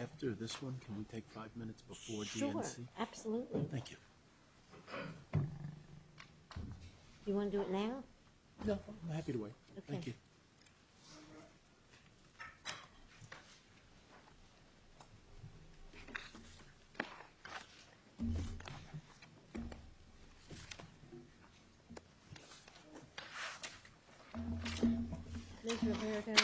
After this one, can we take five minutes before DNC? Sure, absolutely. Thank you. You want to do it now? No, I'm happy to wait. Okay. Thank you. Ms. Roberta,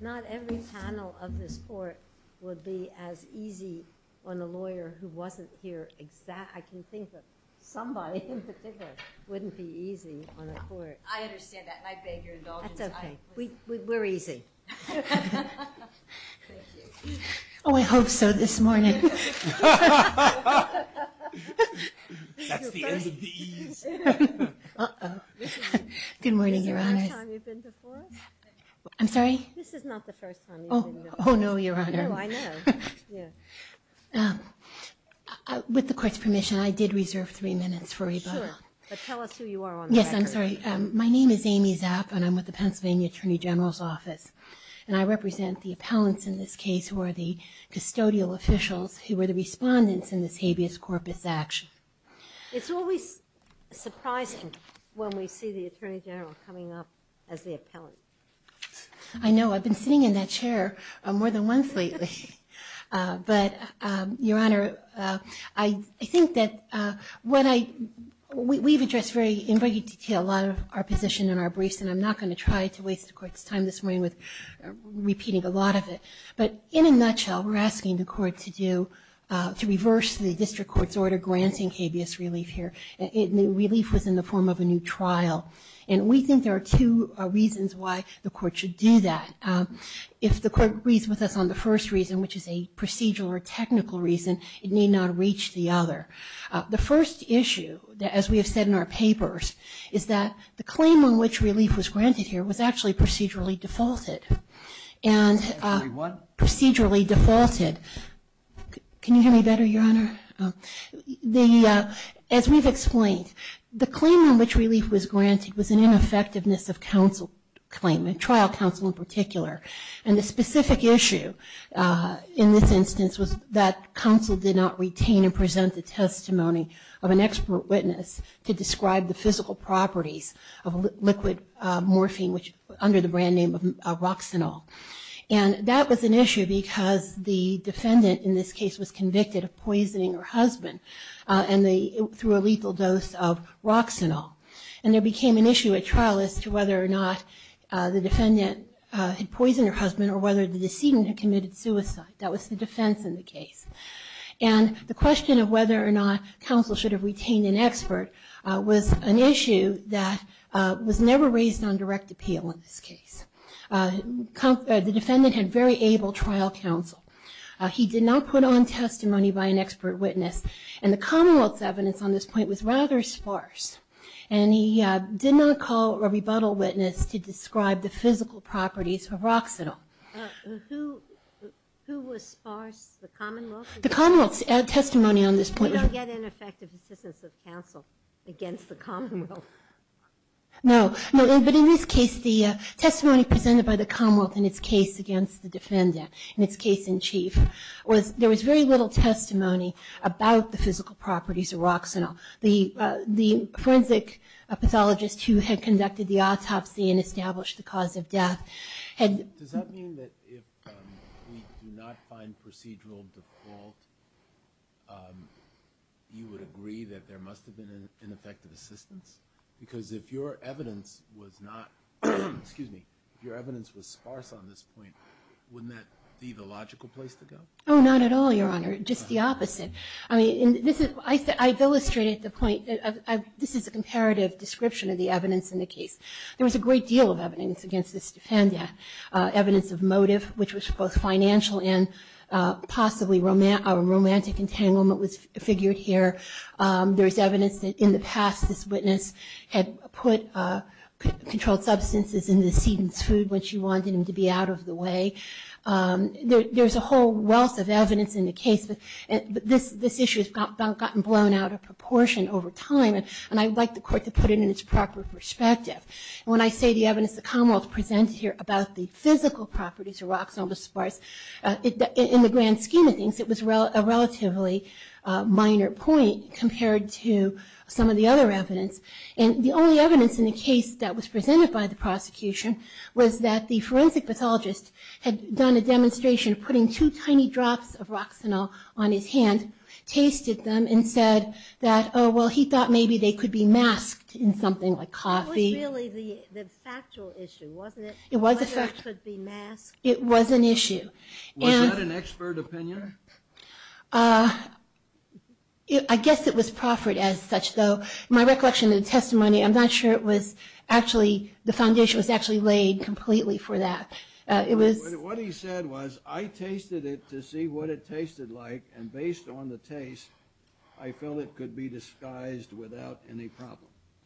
not every panel of this court would be as easy on a lawyer who wasn't here exactly. I can think of somebody in particular who wouldn't be easy on a court. I understand that. I beg your indulgence. That's okay. We're easy. Thank you. Oh, I hope so, this morning. That's the end of these. Uh-oh. Good morning, Your Honors. Is this the first time you've been before us? I'm sorry? This is not the first time you've been before us. Oh, no, Your Honor. No, I know. With the court's permission, I did reserve three minutes for rebuttal. Sure, but tell us who you are on the record. I'm a lawyer. I'm a lawyer. I'm a lawyer. I'm a lawyer. I'm a lawyer. I'm a lawyer. I'm a lawyer. I represent the Pennsylvania Attorney General's Office, and I represent the appellants in this case who are the custodial officials who were the respondents in this habeas corpus action. It's always surprising when we see the Attorney General coming up as the appellant. I know. I've been sitting in that chair more than once lately. But, Your Honor, I think that when I, we've addressed in very detailed a lot of our position in our briefs, and I'm not going to try to waste the Court's time this morning with repeating a lot of it. But, in a nutshell, we're asking the Court to do, to reverse the District Court's order granting habeas relief here. Relief was in the form of a new trial. And we think there are two reasons why the Court should do that. If the Court agrees with us on the first reason, which is a procedural or technical reason, it need not reach the other. The first issue, as we have said in our papers, is that the claim on which relief was granted here was actually procedurally defaulted. And procedurally defaulted, can you hear me better, Your Honor? As we've explained, the claim on which relief was granted was an ineffectiveness of counsel claim, and trial counsel in particular. And the specific issue in this instance was that counsel did not retain and present the testimony of an expert witness to describe the physical properties of liquid morphine, which under the brand name of Roxanol. And that was an issue because the defendant in this case was convicted of poisoning her husband through a lethal dose of Roxanol. And there became an issue at trial as to whether or not the defendant had poisoned her husband or whether the decedent had committed suicide. That was the defense in the case. And the question of whether or not counsel should have retained an expert was an issue that was never raised on direct appeal in this case. The defendant had very able trial counsel. He did not put on testimony by an expert witness. And the Commonwealth's evidence on this point was rather sparse. And he did not call a rebuttal witness to describe the physical properties of Roxanol. Who was sparse? The Commonwealth? The Commonwealth's testimony on this point. We don't get ineffective assistance of counsel against the Commonwealth. No. But in this case, the testimony presented by the Commonwealth in its case against the physical properties of Roxanol, the forensic pathologist who had conducted the autopsy and established the cause of death had... Does that mean that if we do not find procedural default, you would agree that there must have been ineffective assistance? Because if your evidence was not, excuse me, if your evidence was sparse on this point, wouldn't that be the logical place to go? Oh, not at all, Your Honor. Just the opposite. I mean, I've illustrated the point. This is a comparative description of the evidence in the case. There was a great deal of evidence against this defendant. Evidence of motive, which was both financial and possibly a romantic entanglement was figured here. There's evidence that in the past this witness had put controlled substances in the decedent's food when she wanted him to be out of the way. There's a whole wealth of evidence in the case. This issue has gotten blown out of proportion over time. And I'd like the court to put it in its proper perspective. When I say the evidence the Commonwealth presents here about the physical properties of Roxanol was sparse, in the grand scheme of things, it was a relatively minor point compared to some of the other evidence. And the only evidence in the case that was presented by the prosecution was that the on his hand tasted them and said that, oh, well, he thought maybe they could be masked in something like coffee. It was really the factual issue, wasn't it? It was a fact. Whether it could be masked. It was an issue. Was that an expert opinion? I guess it was proffered as such, though. My recollection of the testimony, I'm not sure it was actually, the foundation was actually laid completely for that. What he said was, I tasted it to see what it tasted like, and based on the taste, I felt it could be disguised without any problem.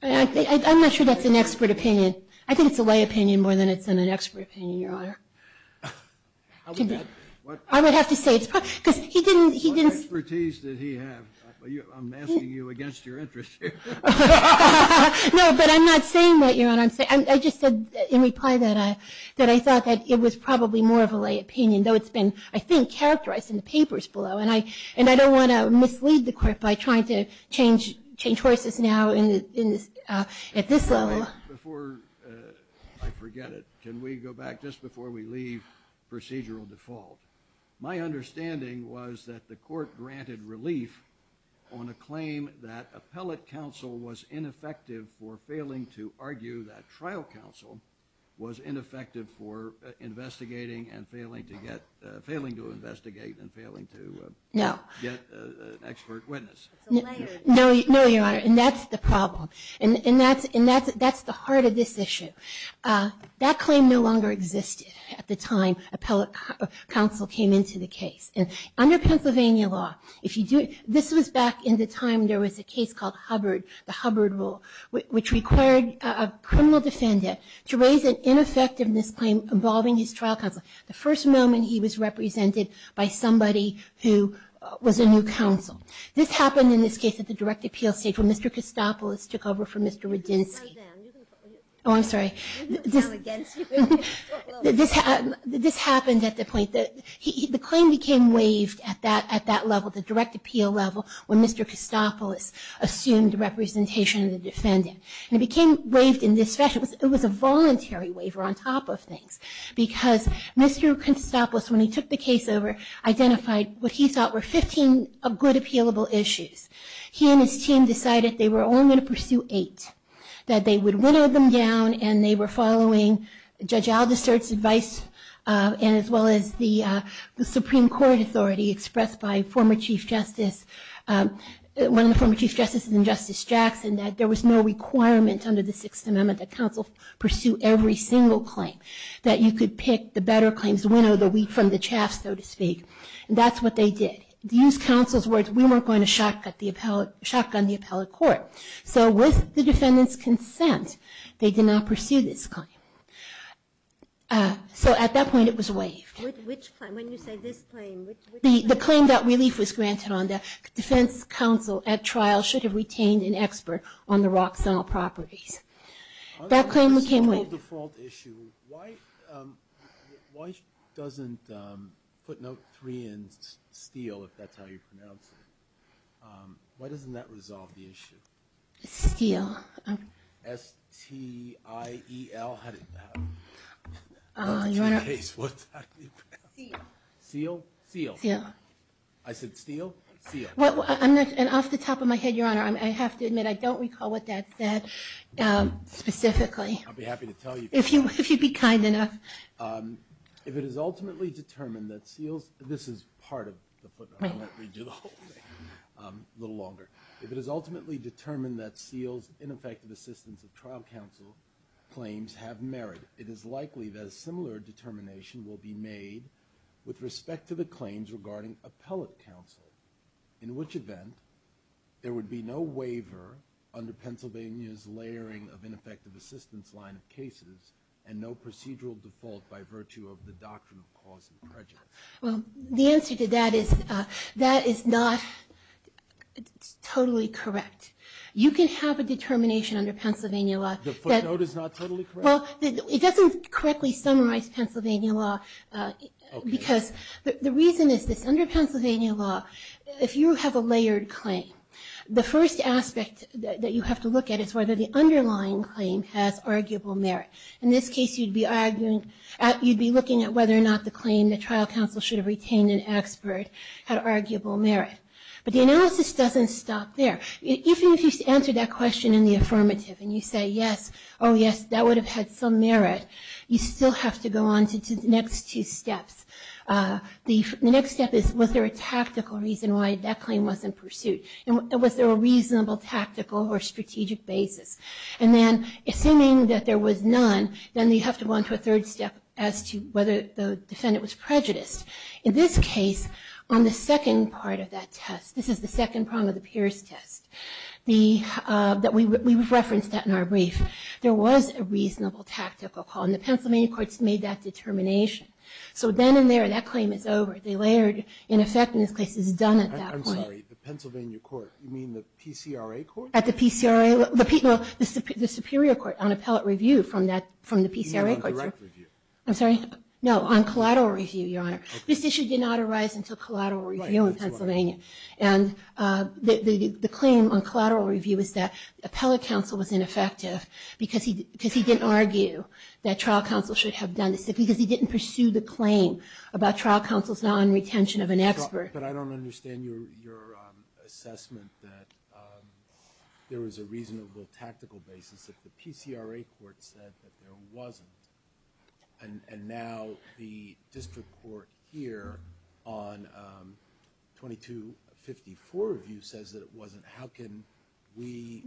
I'm not sure that's an expert opinion. I think it's a lay opinion more than it's an expert opinion, Your Honor. I would have to say it's probably, because he didn't. What expertise did he have? I'm asking you against your interest here. No, but I'm not saying that, Your Honor. I just said in reply that I thought that it was probably more of a lay opinion, though it's been, I think, characterized in the papers below. And I don't want to mislead the court by trying to change horses now at this level. Before I forget it, can we go back just before we leave procedural default? My understanding was that the court granted relief on a claim that appellate counsel was ineffective for investigating and failing to investigate and failing to get an expert witness. No, Your Honor, and that's the problem. And that's the heart of this issue. That claim no longer existed at the time appellate counsel came into the case. And under Pennsylvania law, if you do it, this was back in the time there was a case called Hubbard, the Hubbard rule, which required a criminal defendant to raise an ineffectiveness claim involving his trial counsel the first moment he was represented by somebody who was a new counsel. This happened in this case at the direct appeal stage when Mr. Kostopoulos took over from Mr. Radinsky. Oh, I'm sorry. This happened at the point, the claim became waived at that level, the direct appeal level when Mr. Kostopoulos assumed representation of the defendant. And it became waived in this fashion. It was a voluntary waiver on top of things because Mr. Kostopoulos, when he took the case over, identified what he thought were 15 good appealable issues. He and his team decided they were only going to pursue eight, that they would winnow them down and they were following Judge Aldistert's advice and as well as the Supreme Court authority expressed by former Chief Justice, one of the former Chief Justices and Justice Jackson that there was no requirement under the Sixth Amendment that counsel pursue every single claim. That you could pick the better claims, winnow the wheat from the chaff so to speak. That's what they did. To use counsel's words, we weren't going to shotgun the appellate court. So with the defendant's consent, they did not pursue this claim. So at that point it was waived. With which claim? When you say this claim, which claim? The claim that relief was granted on the defense counsel at trial should have retained an expert on the Roxanne properties. That claim became waived. On the default issue, why doesn't, put note three in, Steele, if that's how you pronounce it. Why doesn't that resolve the issue? Steele. S-T-I-E-L-E-L. Not the T-K's. What's that? Steele. Steele. I said Steele. Steele. I'm not, and off the top of my head, your honor, I have to admit I don't recall what that said specifically. I'll be happy to tell you. If you'd be kind enough. If it is ultimately determined that Steele's, this is part of the footnote. I won't read you the whole thing. A little longer. If it is ultimately determined that Steele's ineffective assistance of trial counsel claims have merit, it is likely that a similar determination will be made to the defense counsel. respect to the claims regarding appellate counsel, in which event, there would be no waiver under Pennsylvania's layering of ineffective assistance line of cases, and no procedural default by virtue of the doctrine of cause and prejudice. Well, the answer to that is, that is not totally correct. You can have a determination under Pennsylvania law that- The footnote is not totally correct? Well, it doesn't correctly summarize Pennsylvania law, because the reason is this. Under Pennsylvania law, if you have a layered claim, the first aspect that you have to look at is whether the underlying claim has arguable merit. In this case, you'd be looking at whether or not the claim that trial counsel should have retained an expert had arguable merit. But the analysis doesn't stop there. Even if you answer that question in the affirmative, and you say, yes, oh yes, that would have had some merit, you still have to go on to the next two steps. The next step is, was there a tactical reason why that claim was in pursuit? And was there a reasonable tactical or strategic basis? And then, assuming that there was none, then you have to go on to a third step as to whether the defendant was prejudiced. In this case, on the second part of that test, this is the second prong of the Pierce test, we've referenced that in our brief. There was a reasonable tactical call, and the Pennsylvania courts made that determination. So then and there, that claim is over. The layered in effect in this case is done at that point. I'm sorry. The Pennsylvania court. You mean the PCRA court? At the PCRA. Well, the Superior Court on appellate review from the PCRA courts. You mean on direct review? I'm sorry? No, on collateral review, Your Honor. Okay. This issue did not arise until collateral review in Pennsylvania. Right, that's right. And the claim on collateral review is that appellate counsel was ineffective because he didn't argue that trial counsel should have done this, because he didn't pursue the claim about trial counsel's non-retention of an expert. But I don't understand your assessment that there was a reasonable tactical basis, that the PCRA court said that there wasn't. And now the district court here on 2254 review says that it wasn't. How can we,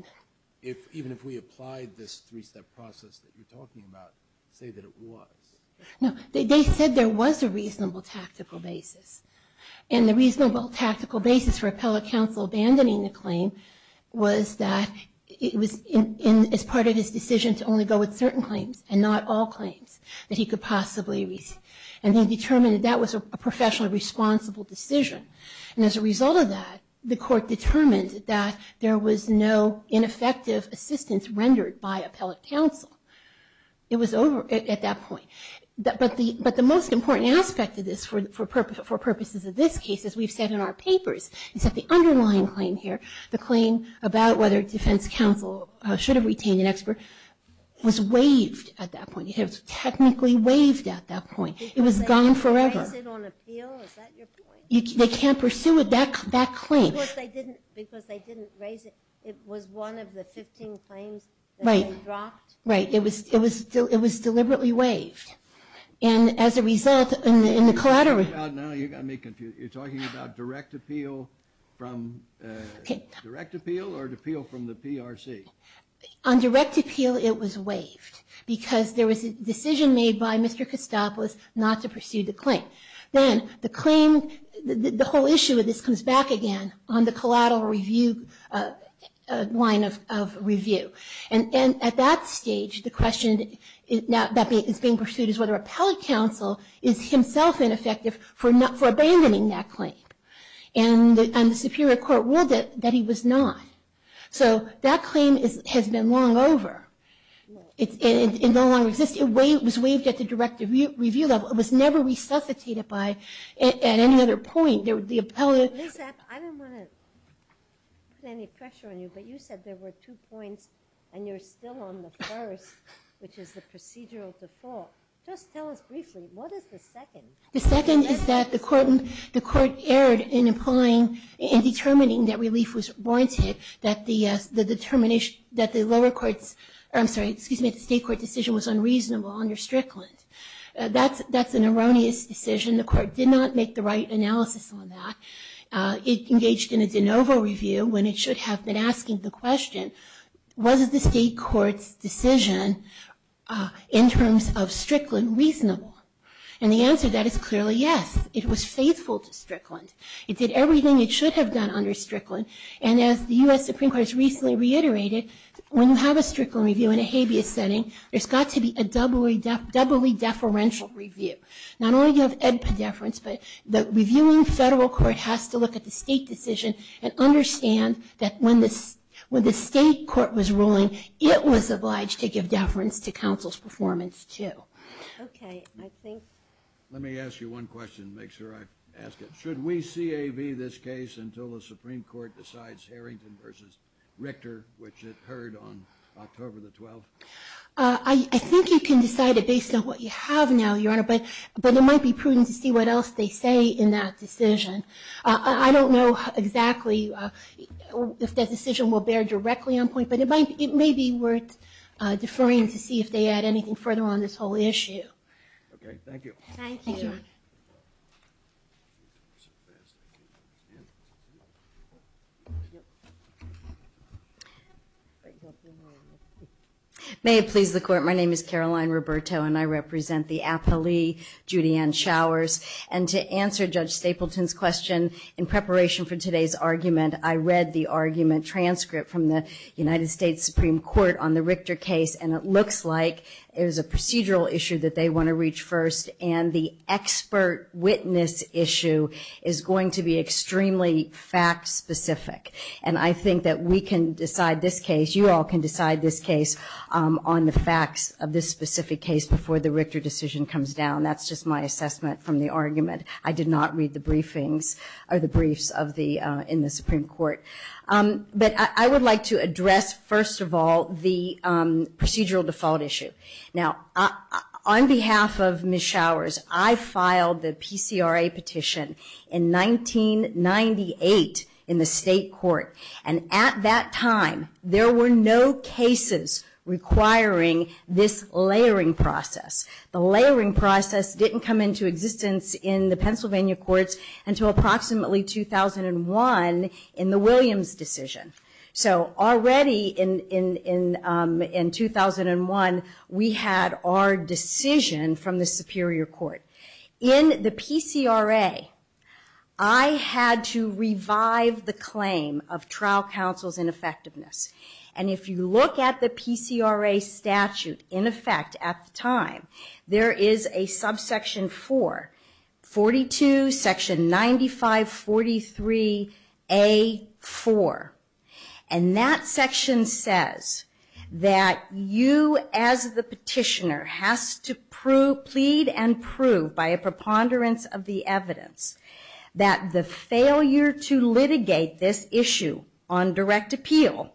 even if we applied this three-step process that you're talking about, say that it was? No, they said there was a reasonable tactical basis. And the reasonable tactical basis for appellate counsel abandoning the claim was that it was as part of his decision to only go with certain claims and not all claims that he could possibly reach. And he determined that that was a professionally responsible decision. And as a result of that, the court determined that there was no ineffective assistance rendered by appellate counsel. It was over at that point. But the most important aspect of this for purposes of this case, as we've said in our papers, is that the underlying claim here, the claim about whether defense counsel should have retained an expert, was waived at that point. It was technically waived at that point. It was gone forever. Because they didn't raise it on appeal? Is that your point? They can't pursue that claim. Because they didn't raise it. It was one of the 15 claims that they dropped? Right. It was deliberately waived. And as a result, in the collateral... Well, now you've got me confused. You're talking about direct appeal from the PRC? On direct appeal, it was waived. Because there was a decision made by Mr. Kostopoulos not to pursue the claim. Then the claim, the whole issue of this comes back again on the collateral line of review. And at that stage, the question that is being pursued is whether appellate counsel is himself ineffective for abandoning that claim. And the Superior Court ruled that he was not. So that claim has been long over. It no longer exists. It was waived at the direct review level. It was never resuscitated at any other point. Liz, I don't want to put any pressure on you, but you said there were two points, and you're still on the first, which is the procedural default. Just tell us briefly, what is the second? The second is that the court erred in determining that relief was warranted, that the state court decision was unreasonable under Strickland. That's an erroneous decision. The court did not make the right analysis on that. It engaged in a de novo review when it should have been asking the question, was the state court's decision in terms of Strickland reasonable? And the answer to that is clearly yes. It was faithful to Strickland. It did everything it should have done under Strickland. And as the U.S. Supreme Court has recently reiterated, when you have a Strickland review in a habeas setting, there's got to be a doubly deferential review. Not only do you have ed pediferance, but the reviewing federal court has to look at the state decision and understand that when the state court was ruling, it was obliged to give deference to counsel's performance, too. Okay. Let me ask you one question to make sure I ask it. Should we CAV this case until the Supreme Court decides Harrington v. Richter, which it heard on October the 12th? I think you can decide it based on what you have now, Your Honor, but it might be prudent to see what else they say in that decision. I don't know exactly if that decision will bear directly on point, but it may be worth deferring to see if they add anything further on this whole issue. Okay. Thank you. Thank you. May it please the Court, my name is Caroline Roberto, and I represent the appellee, Judy Ann Showers. And to answer Judge Stapleton's question, in preparation for today's argument, I read the argument transcript from the United States Supreme Court on the Richter case, and it looks like it was a procedural issue that they want to reach first, and the expert witness issue is going to be extremely fact specific. And I think that we can decide this case, you all can decide this case, on the facts of this specific case before the Richter decision comes down. That's just my assessment from the argument. I did not read the briefings or the briefs in the Supreme Court. But I would like to address, first of all, the procedural default issue. Now, on behalf of Ms. Showers, I filed the PCRA petition in 1998 in the state court, and at that time there were no cases requiring this layering process. The layering process didn't come into existence in the Pennsylvania courts until approximately 2001 in the Williams decision. So already in 2001, we had our decision from the Superior Court. In the PCRA, I had to revive the claim of trial counsel's ineffectiveness. And if you look at the PCRA statute in effect at the time, there is a subsection 4, 42, section 9543A4. And that section says that you as the petitioner has to plead and prove, by a preponderance of the evidence, that the failure to litigate this issue on direct appeal,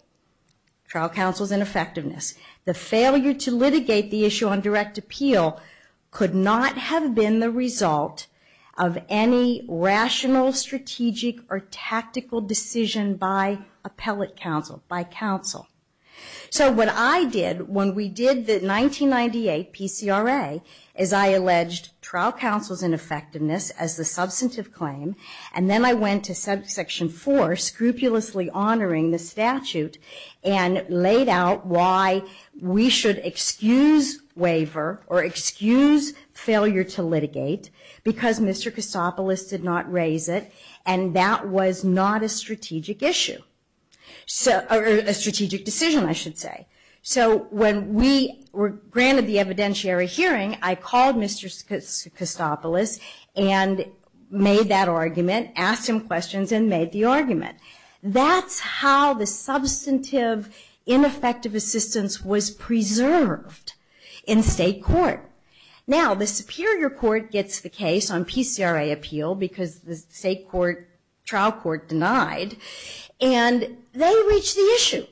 trial counsel's ineffectiveness, the failure to litigate the issue on direct appeal could not have been the result of any rational, strategic, or tactical decision by appellate counsel, by counsel. So what I did when we did the 1998 PCRA is I alleged trial counsel's ineffectiveness as the substantive claim, and then I went to subsection 4, scrupulously honoring the statute, and laid out why we should excuse waiver, or excuse failure to litigate, because Mr. Kostopoulos did not raise it, and that was not a strategic issue. Or a strategic decision, I should say. So when we were granted the evidentiary hearing, I called Mr. Kostopoulos and made that argument, asked him questions, and made the argument. That's how the substantive ineffective assistance was preserved in state court. Now, the superior court gets the case on PCRA appeal because the state trial court denied, and they reach the issue.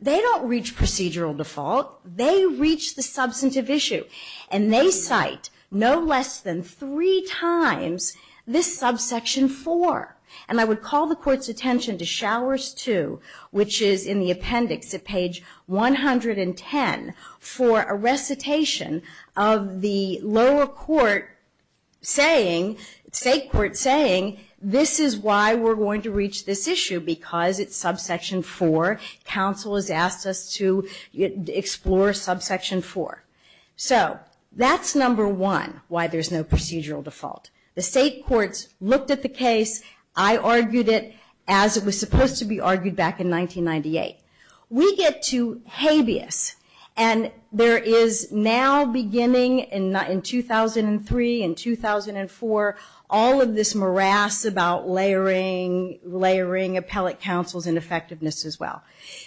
They don't reach procedural default, they reach the substantive issue. And they cite no less than three times this subsection 4. And I would call the court's attention to showers 2, which is in the appendix at page 110, for a recitation of the lower court saying, state court saying, this is why we're going to reach this issue, because it's subsection 4. Counsel has asked us to explore subsection 4. So that's number one, why there's no procedural default. The state courts looked at the case, I argued it as it was supposed to be argued back in 1998. We get to habeas, and there is now beginning in 2003 and 2004, all of this morass about layering appellate counsels and effectiveness as well.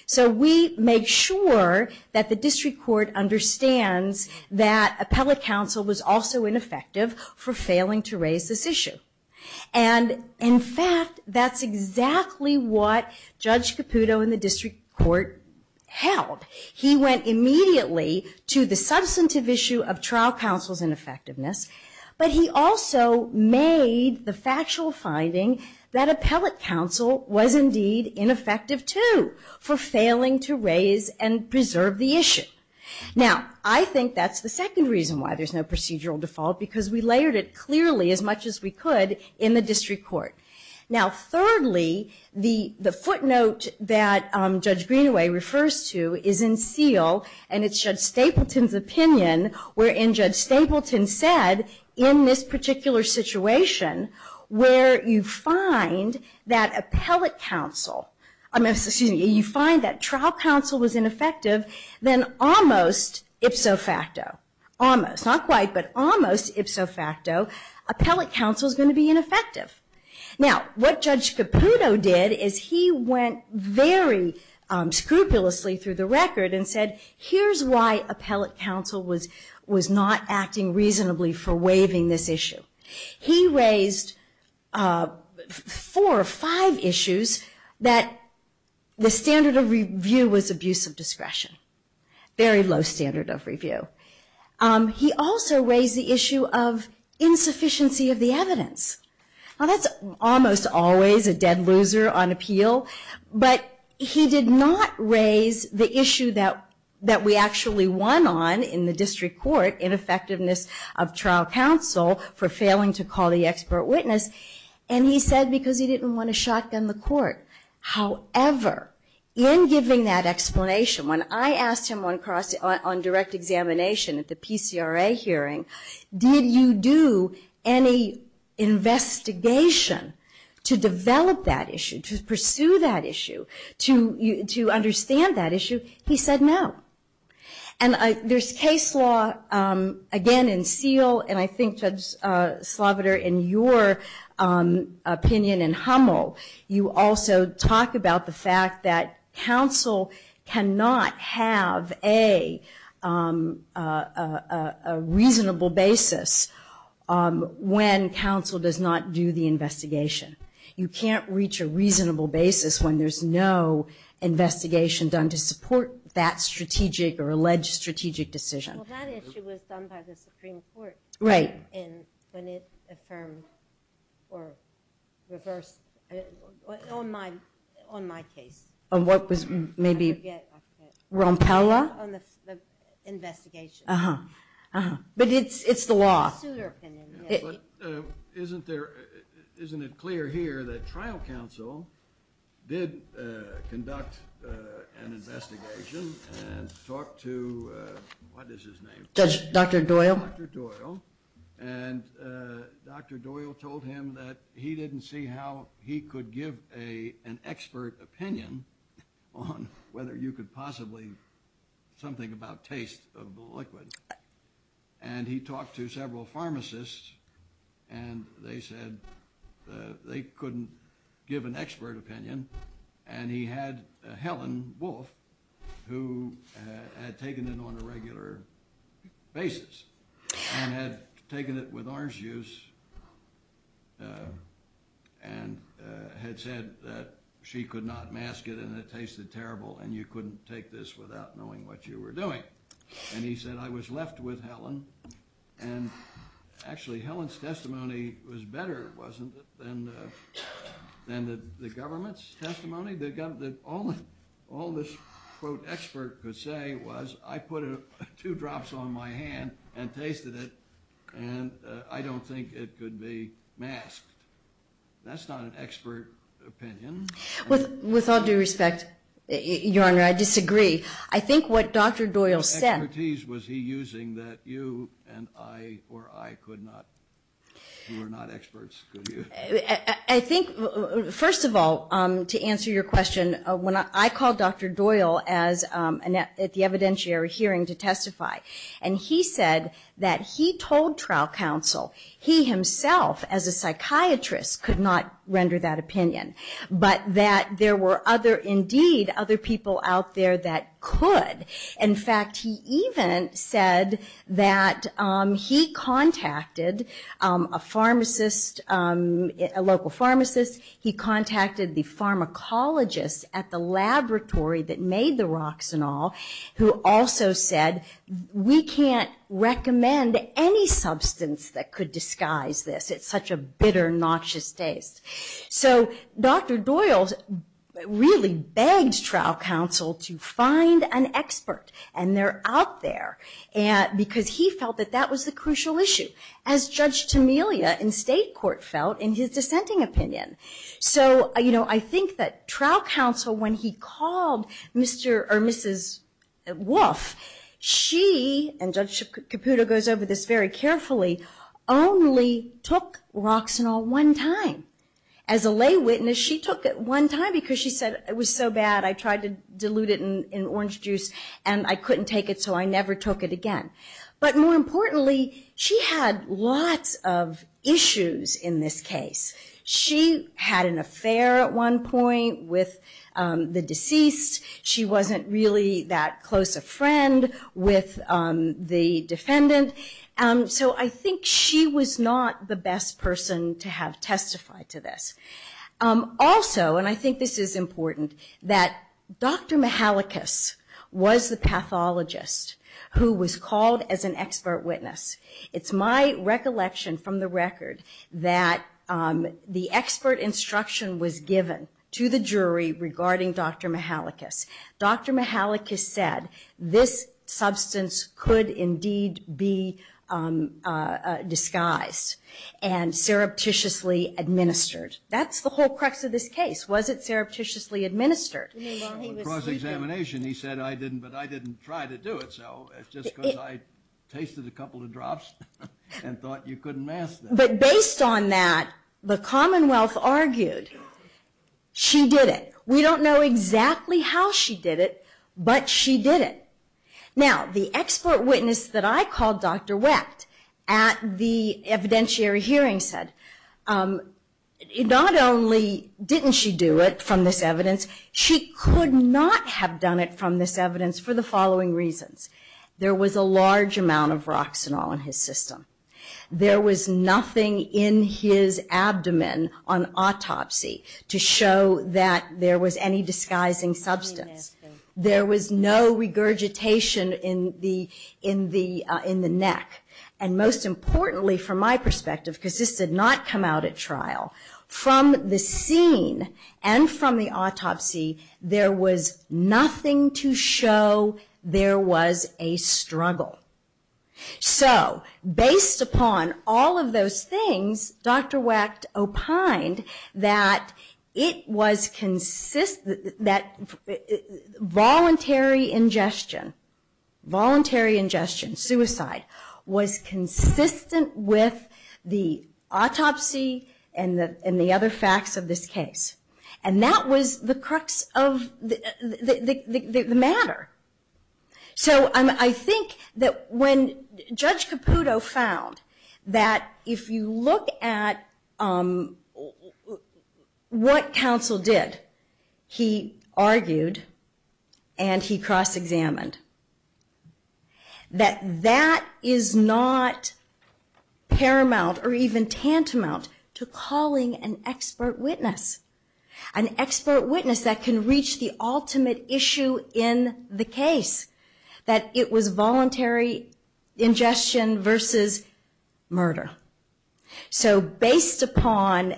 So we make sure that the district court understands that appellate counsel was also ineffective for failing to raise this issue. And in fact, that's exactly what Judge Caputo in the district court held. He went immediately to the substantive issue of trial counsel's ineffectiveness, but he also made the factual finding that appellate counsel was indeed ineffective, too, for failing to raise and preserve the issue. Now, I think that's the second reason why there's no procedural default, because we layered it clearly as much as we could in the district court. Now, thirdly, the footnote that Judge Greenaway refers to is in seal, and it's Judge Stapleton's opinion wherein Judge Stapleton said, in this particular situation, where you find that appellate counsel, excuse me, you find that trial counsel was ineffective, then almost ipso facto, almost. Not quite, but almost ipso facto, appellate counsel's going to be ineffective. Now, what Judge Caputo did is he went very scrupulously through the record and said, here's why appellate counsel was not acting reasonably for waiving this issue. He raised four or five issues that the standard of review was abuse of discretion, very low standard of review. He also raised the issue of insufficiency of the evidence. Now, that's almost always a dead loser on appeal, but he did not raise the issue that we actually won on in the district court, ineffectiveness of trial counsel for failing to call the expert witness, and he said because he didn't want to shotgun the court. However, in giving that explanation, when I asked him on direct examination at the PCRA hearing, did you do any investigation to develop that issue, to pursue that issue, to understand that issue, he said no. And there's case law, again, in SEAL, and I think, Judge Sloviter, in your opinion in Hummel, you also talk about the fact that counsel cannot have a reasonable basis when counsel does not do the investigation. You can't reach a reasonable basis when there's no investigation done to support that strategic or alleged strategic decision. Well, that issue was done by the Supreme Court. Right. And when it affirmed or reversed, on my case. On what was maybe Rompella? On the investigation. Uh-huh. But it's the law. It's a suitor opinion. Isn't it clear here that trial counsel did conduct an investigation and talked to, what is his name? Judge, Dr. Doyle. Dr. Doyle. And Dr. Doyle told him that he didn't see how he could give an expert opinion on whether you could possibly, something about taste of the liquid. And he talked to several pharmacists, and they said they couldn't give an expert opinion. And he had Helen Wolfe, who had taken it on a regular basis and had taken it with orange juice and had said that she could not mask it and it tasted terrible and you couldn't take this without knowing what you were doing. And he said, I was left with Helen. And actually, Helen's testimony was better, wasn't it, than the government's testimony? All this, quote, expert could say was, I put two drops on my hand and tasted it and I don't think it could be masked. That's not an expert opinion. With all due respect, Your Honor, I disagree. I think what Dr. Doyle said. What expertise was he using that you and I or I could not, you were not experts, could you? I think, first of all, to answer your question, I called Dr. Doyle at the evidentiary hearing to testify. And he said that he told trial counsel he himself, as a psychiatrist, could not render that opinion, but that there were indeed other people out there that could. In fact, he even said that he contacted a pharmacist, a local pharmacist. He contacted the pharmacologist at the laboratory that made the Roxanol, who also said, we can't recommend any substance that could disguise this. It's such a bitter, noxious taste. So Dr. Doyle really begged trial counsel to find an expert, and they're out there, because he felt that that was the crucial issue, as Judge Tamelia in state court felt in his dissenting opinion. So, you know, I think that trial counsel, when he called Mr. or Mrs. Wolf, she, and Judge Caputo goes over this very carefully, only took Roxanol one time. As a lay witness, she took it one time because she said it was so bad, I tried to dilute it in orange juice, and I couldn't take it, so I never took it again. But more importantly, she had lots of issues in this case. She had an affair at one point with the deceased. She wasn't really that close a friend with the defendant. So I think she was not the best person to have testified to this. Also, and I think this is important, that Dr. Mihalikas was the pathologist who was called as an expert witness. It's my recollection from the record that the expert instruction was given to the jury regarding Dr. Mihalikas. Dr. Mihalikas said this substance could indeed be disguised and surreptitiously administered. That's the whole crux of this case. Was it surreptitiously administered? Well, in cross-examination, he said I didn't, but I didn't try to do it, so it's just because I tasted a couple of drops and thought you couldn't mask that. But based on that, the Commonwealth argued she did it. We don't know exactly how she did it, but she did it. Now, the expert witness that I called Dr. Wecht at the evidentiary hearing said not only didn't she do it from this evidence, she could not have done it from this evidence for the following reasons. There was a large amount of Roxanol in his system. There was nothing in his abdomen on autopsy to show that there was any disguising substance. There was no regurgitation in the neck. And most importantly, from my perspective, because this did not come out at trial, from the scene and from the autopsy, there was nothing to show there was a struggle. So, based upon all of those things, Dr. Wecht opined that it was consistent, that voluntary ingestion, voluntary ingestion, suicide, was consistent with the autopsy and the other facts of this case. And that was the crux of the matter. So, I think that when Judge Caputo found that if you look at what counsel did, he argued and he cross-examined, that that is not paramount or even tantamount to calling an expert witness. An expert witness that can reach the ultimate issue in the case, that it was voluntary ingestion versus murder. So, based upon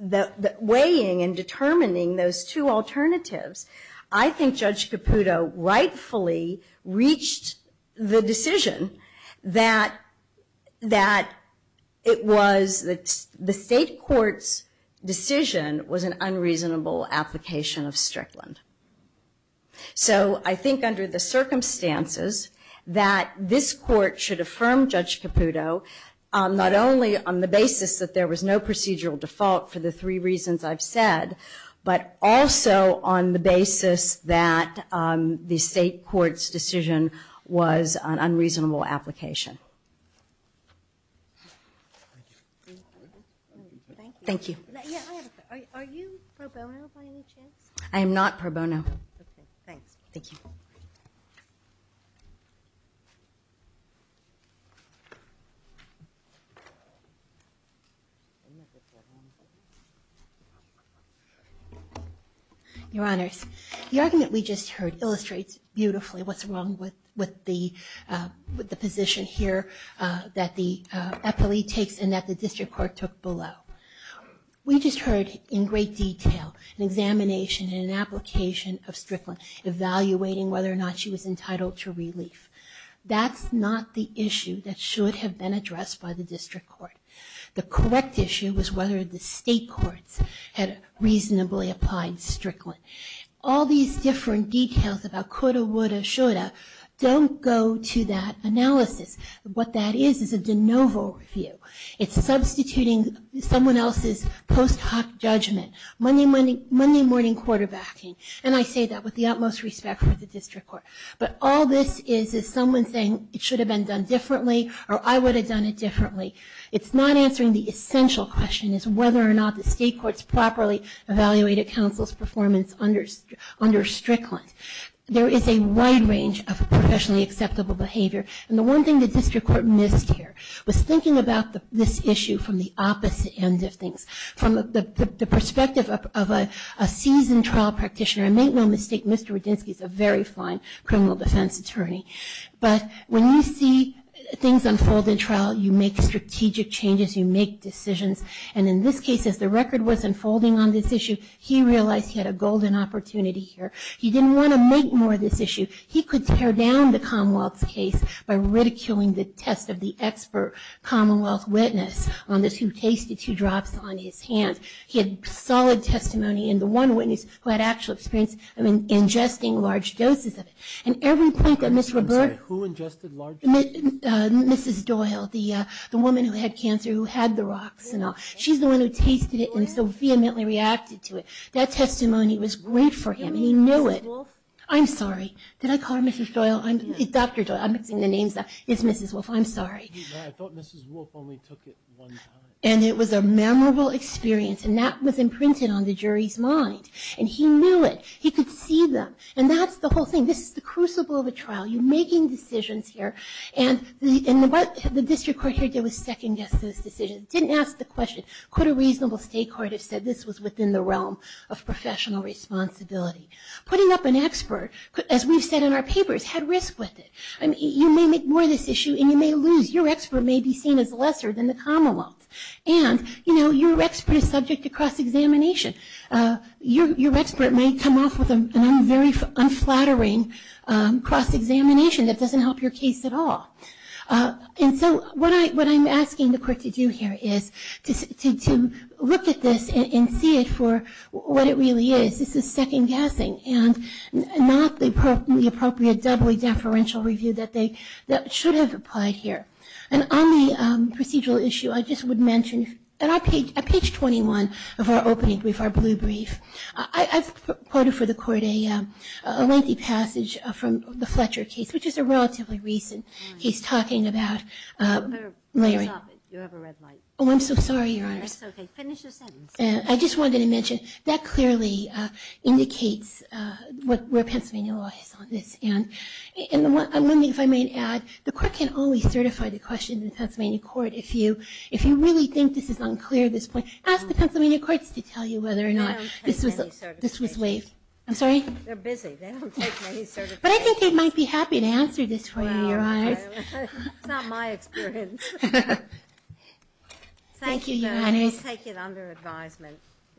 the weighing and determining those two alternatives, I think Judge Caputo rightfully reached the decision that it was the state court's decision was an unreasonable application of Strickland. So, I think under the circumstances that this court should affirm Judge Caputo, not only on the basis that there was no procedural default for the three reasons I've said, but also on the basis that the state court's decision was an unreasonable application. Thank you. Are you pro bono by any chance? I am not pro bono. Okay, thanks. Thank you. Your Honors, the argument we just heard illustrates beautifully what's wrong with the position here that the epilee takes and that the district court took below. We just heard in great detail an examination and an application of Strickland, evaluating whether or not she was entitled to relief. That's not the issue that should have been addressed by the district court. The correct issue was whether the state courts had reasonably applied Strickland. All these different details about coulda, woulda, shoulda don't go to that analysis. What that is is a de novo review. It's substituting someone else's post hoc judgment. Monday morning quarterbacking. And I say that with the utmost respect for the district court. But all this is is someone saying it should have been done differently or I would have done it differently. It's not answering the essential question is whether or not the state court's properly evaluated counsel's performance under Strickland. There is a wide range of professionally acceptable behavior. And the one thing the district court missed here was thinking about this issue from the opposite end of things. From the perspective of a seasoned trial practitioner. And make no mistake, Mr. Radinsky is a very fine criminal defense attorney. But when you see things unfold in trial, you make strategic changes, you make decisions. And in this case, as the record was unfolding on this issue, he realized he had a golden opportunity here. He didn't want to make more of this issue. He could tear down the Commonwealth's case by ridiculing the test of the expert Commonwealth witness on this who tasted two drops on his hand. He had solid testimony. And the one witness who had actual experience of ingesting large doses of it. And every point that Mr. Robert... I'm sorry, who ingested large doses? Mrs. Doyle, the woman who had cancer who had the rocks and all. She's the one who tasted it and so vehemently reacted to it. That testimony was great for him. And he knew it. I'm sorry. Did I call her Mrs. Doyle? Dr. Doyle. I'm mixing the names up. It's Mrs. Wolfe. I'm sorry. I thought Mrs. Wolfe only took it one time. And it was a memorable experience. And that was imprinted on the jury's mind. And he knew it. He could see them. And that's the whole thing. This is the crucible of a trial. You're making decisions here. And what the district court here did was second-guess those decisions. It didn't ask the question, could a reasonable state court have said this was within the realm of professional responsibility? Putting up an expert, as we've said in our papers, had risk with it. You may make more of this issue and you may lose. Your expert may be seen as lesser than the Commonwealth's. And, you know, your expert is subject to cross-examination. Your expert may come off with an unflattering cross-examination that doesn't help your case at all. And so what I'm asking the court to do here is to look at this and see it for what it really is. This is second-guessing, and not the appropriate doubly deferential review that should have applied here. And on the procedural issue, I just would mention, at page 21 of our opening brief, our blue brief, I've quoted for the court a lengthy passage from the Fletcher case, which is a relatively recent case talking about Larry. Stop it. You have a red light. Oh, I'm so sorry, Your Honor. That's okay. Finish your sentence. I just wanted to mention that clearly indicates where Pennsylvania law is on this. And one thing, if I may add, the court can only certify the question to the Pennsylvania court if you really think this is unclear at this point. Ask the Pennsylvania courts to tell you whether or not this was waived. I'm sorry? They're busy. They don't take any certifications. But I think they might be happy to answer this for you, Your Honors. It's not my experience. Thank you, Your Honors. Thank you. We take it under advisement.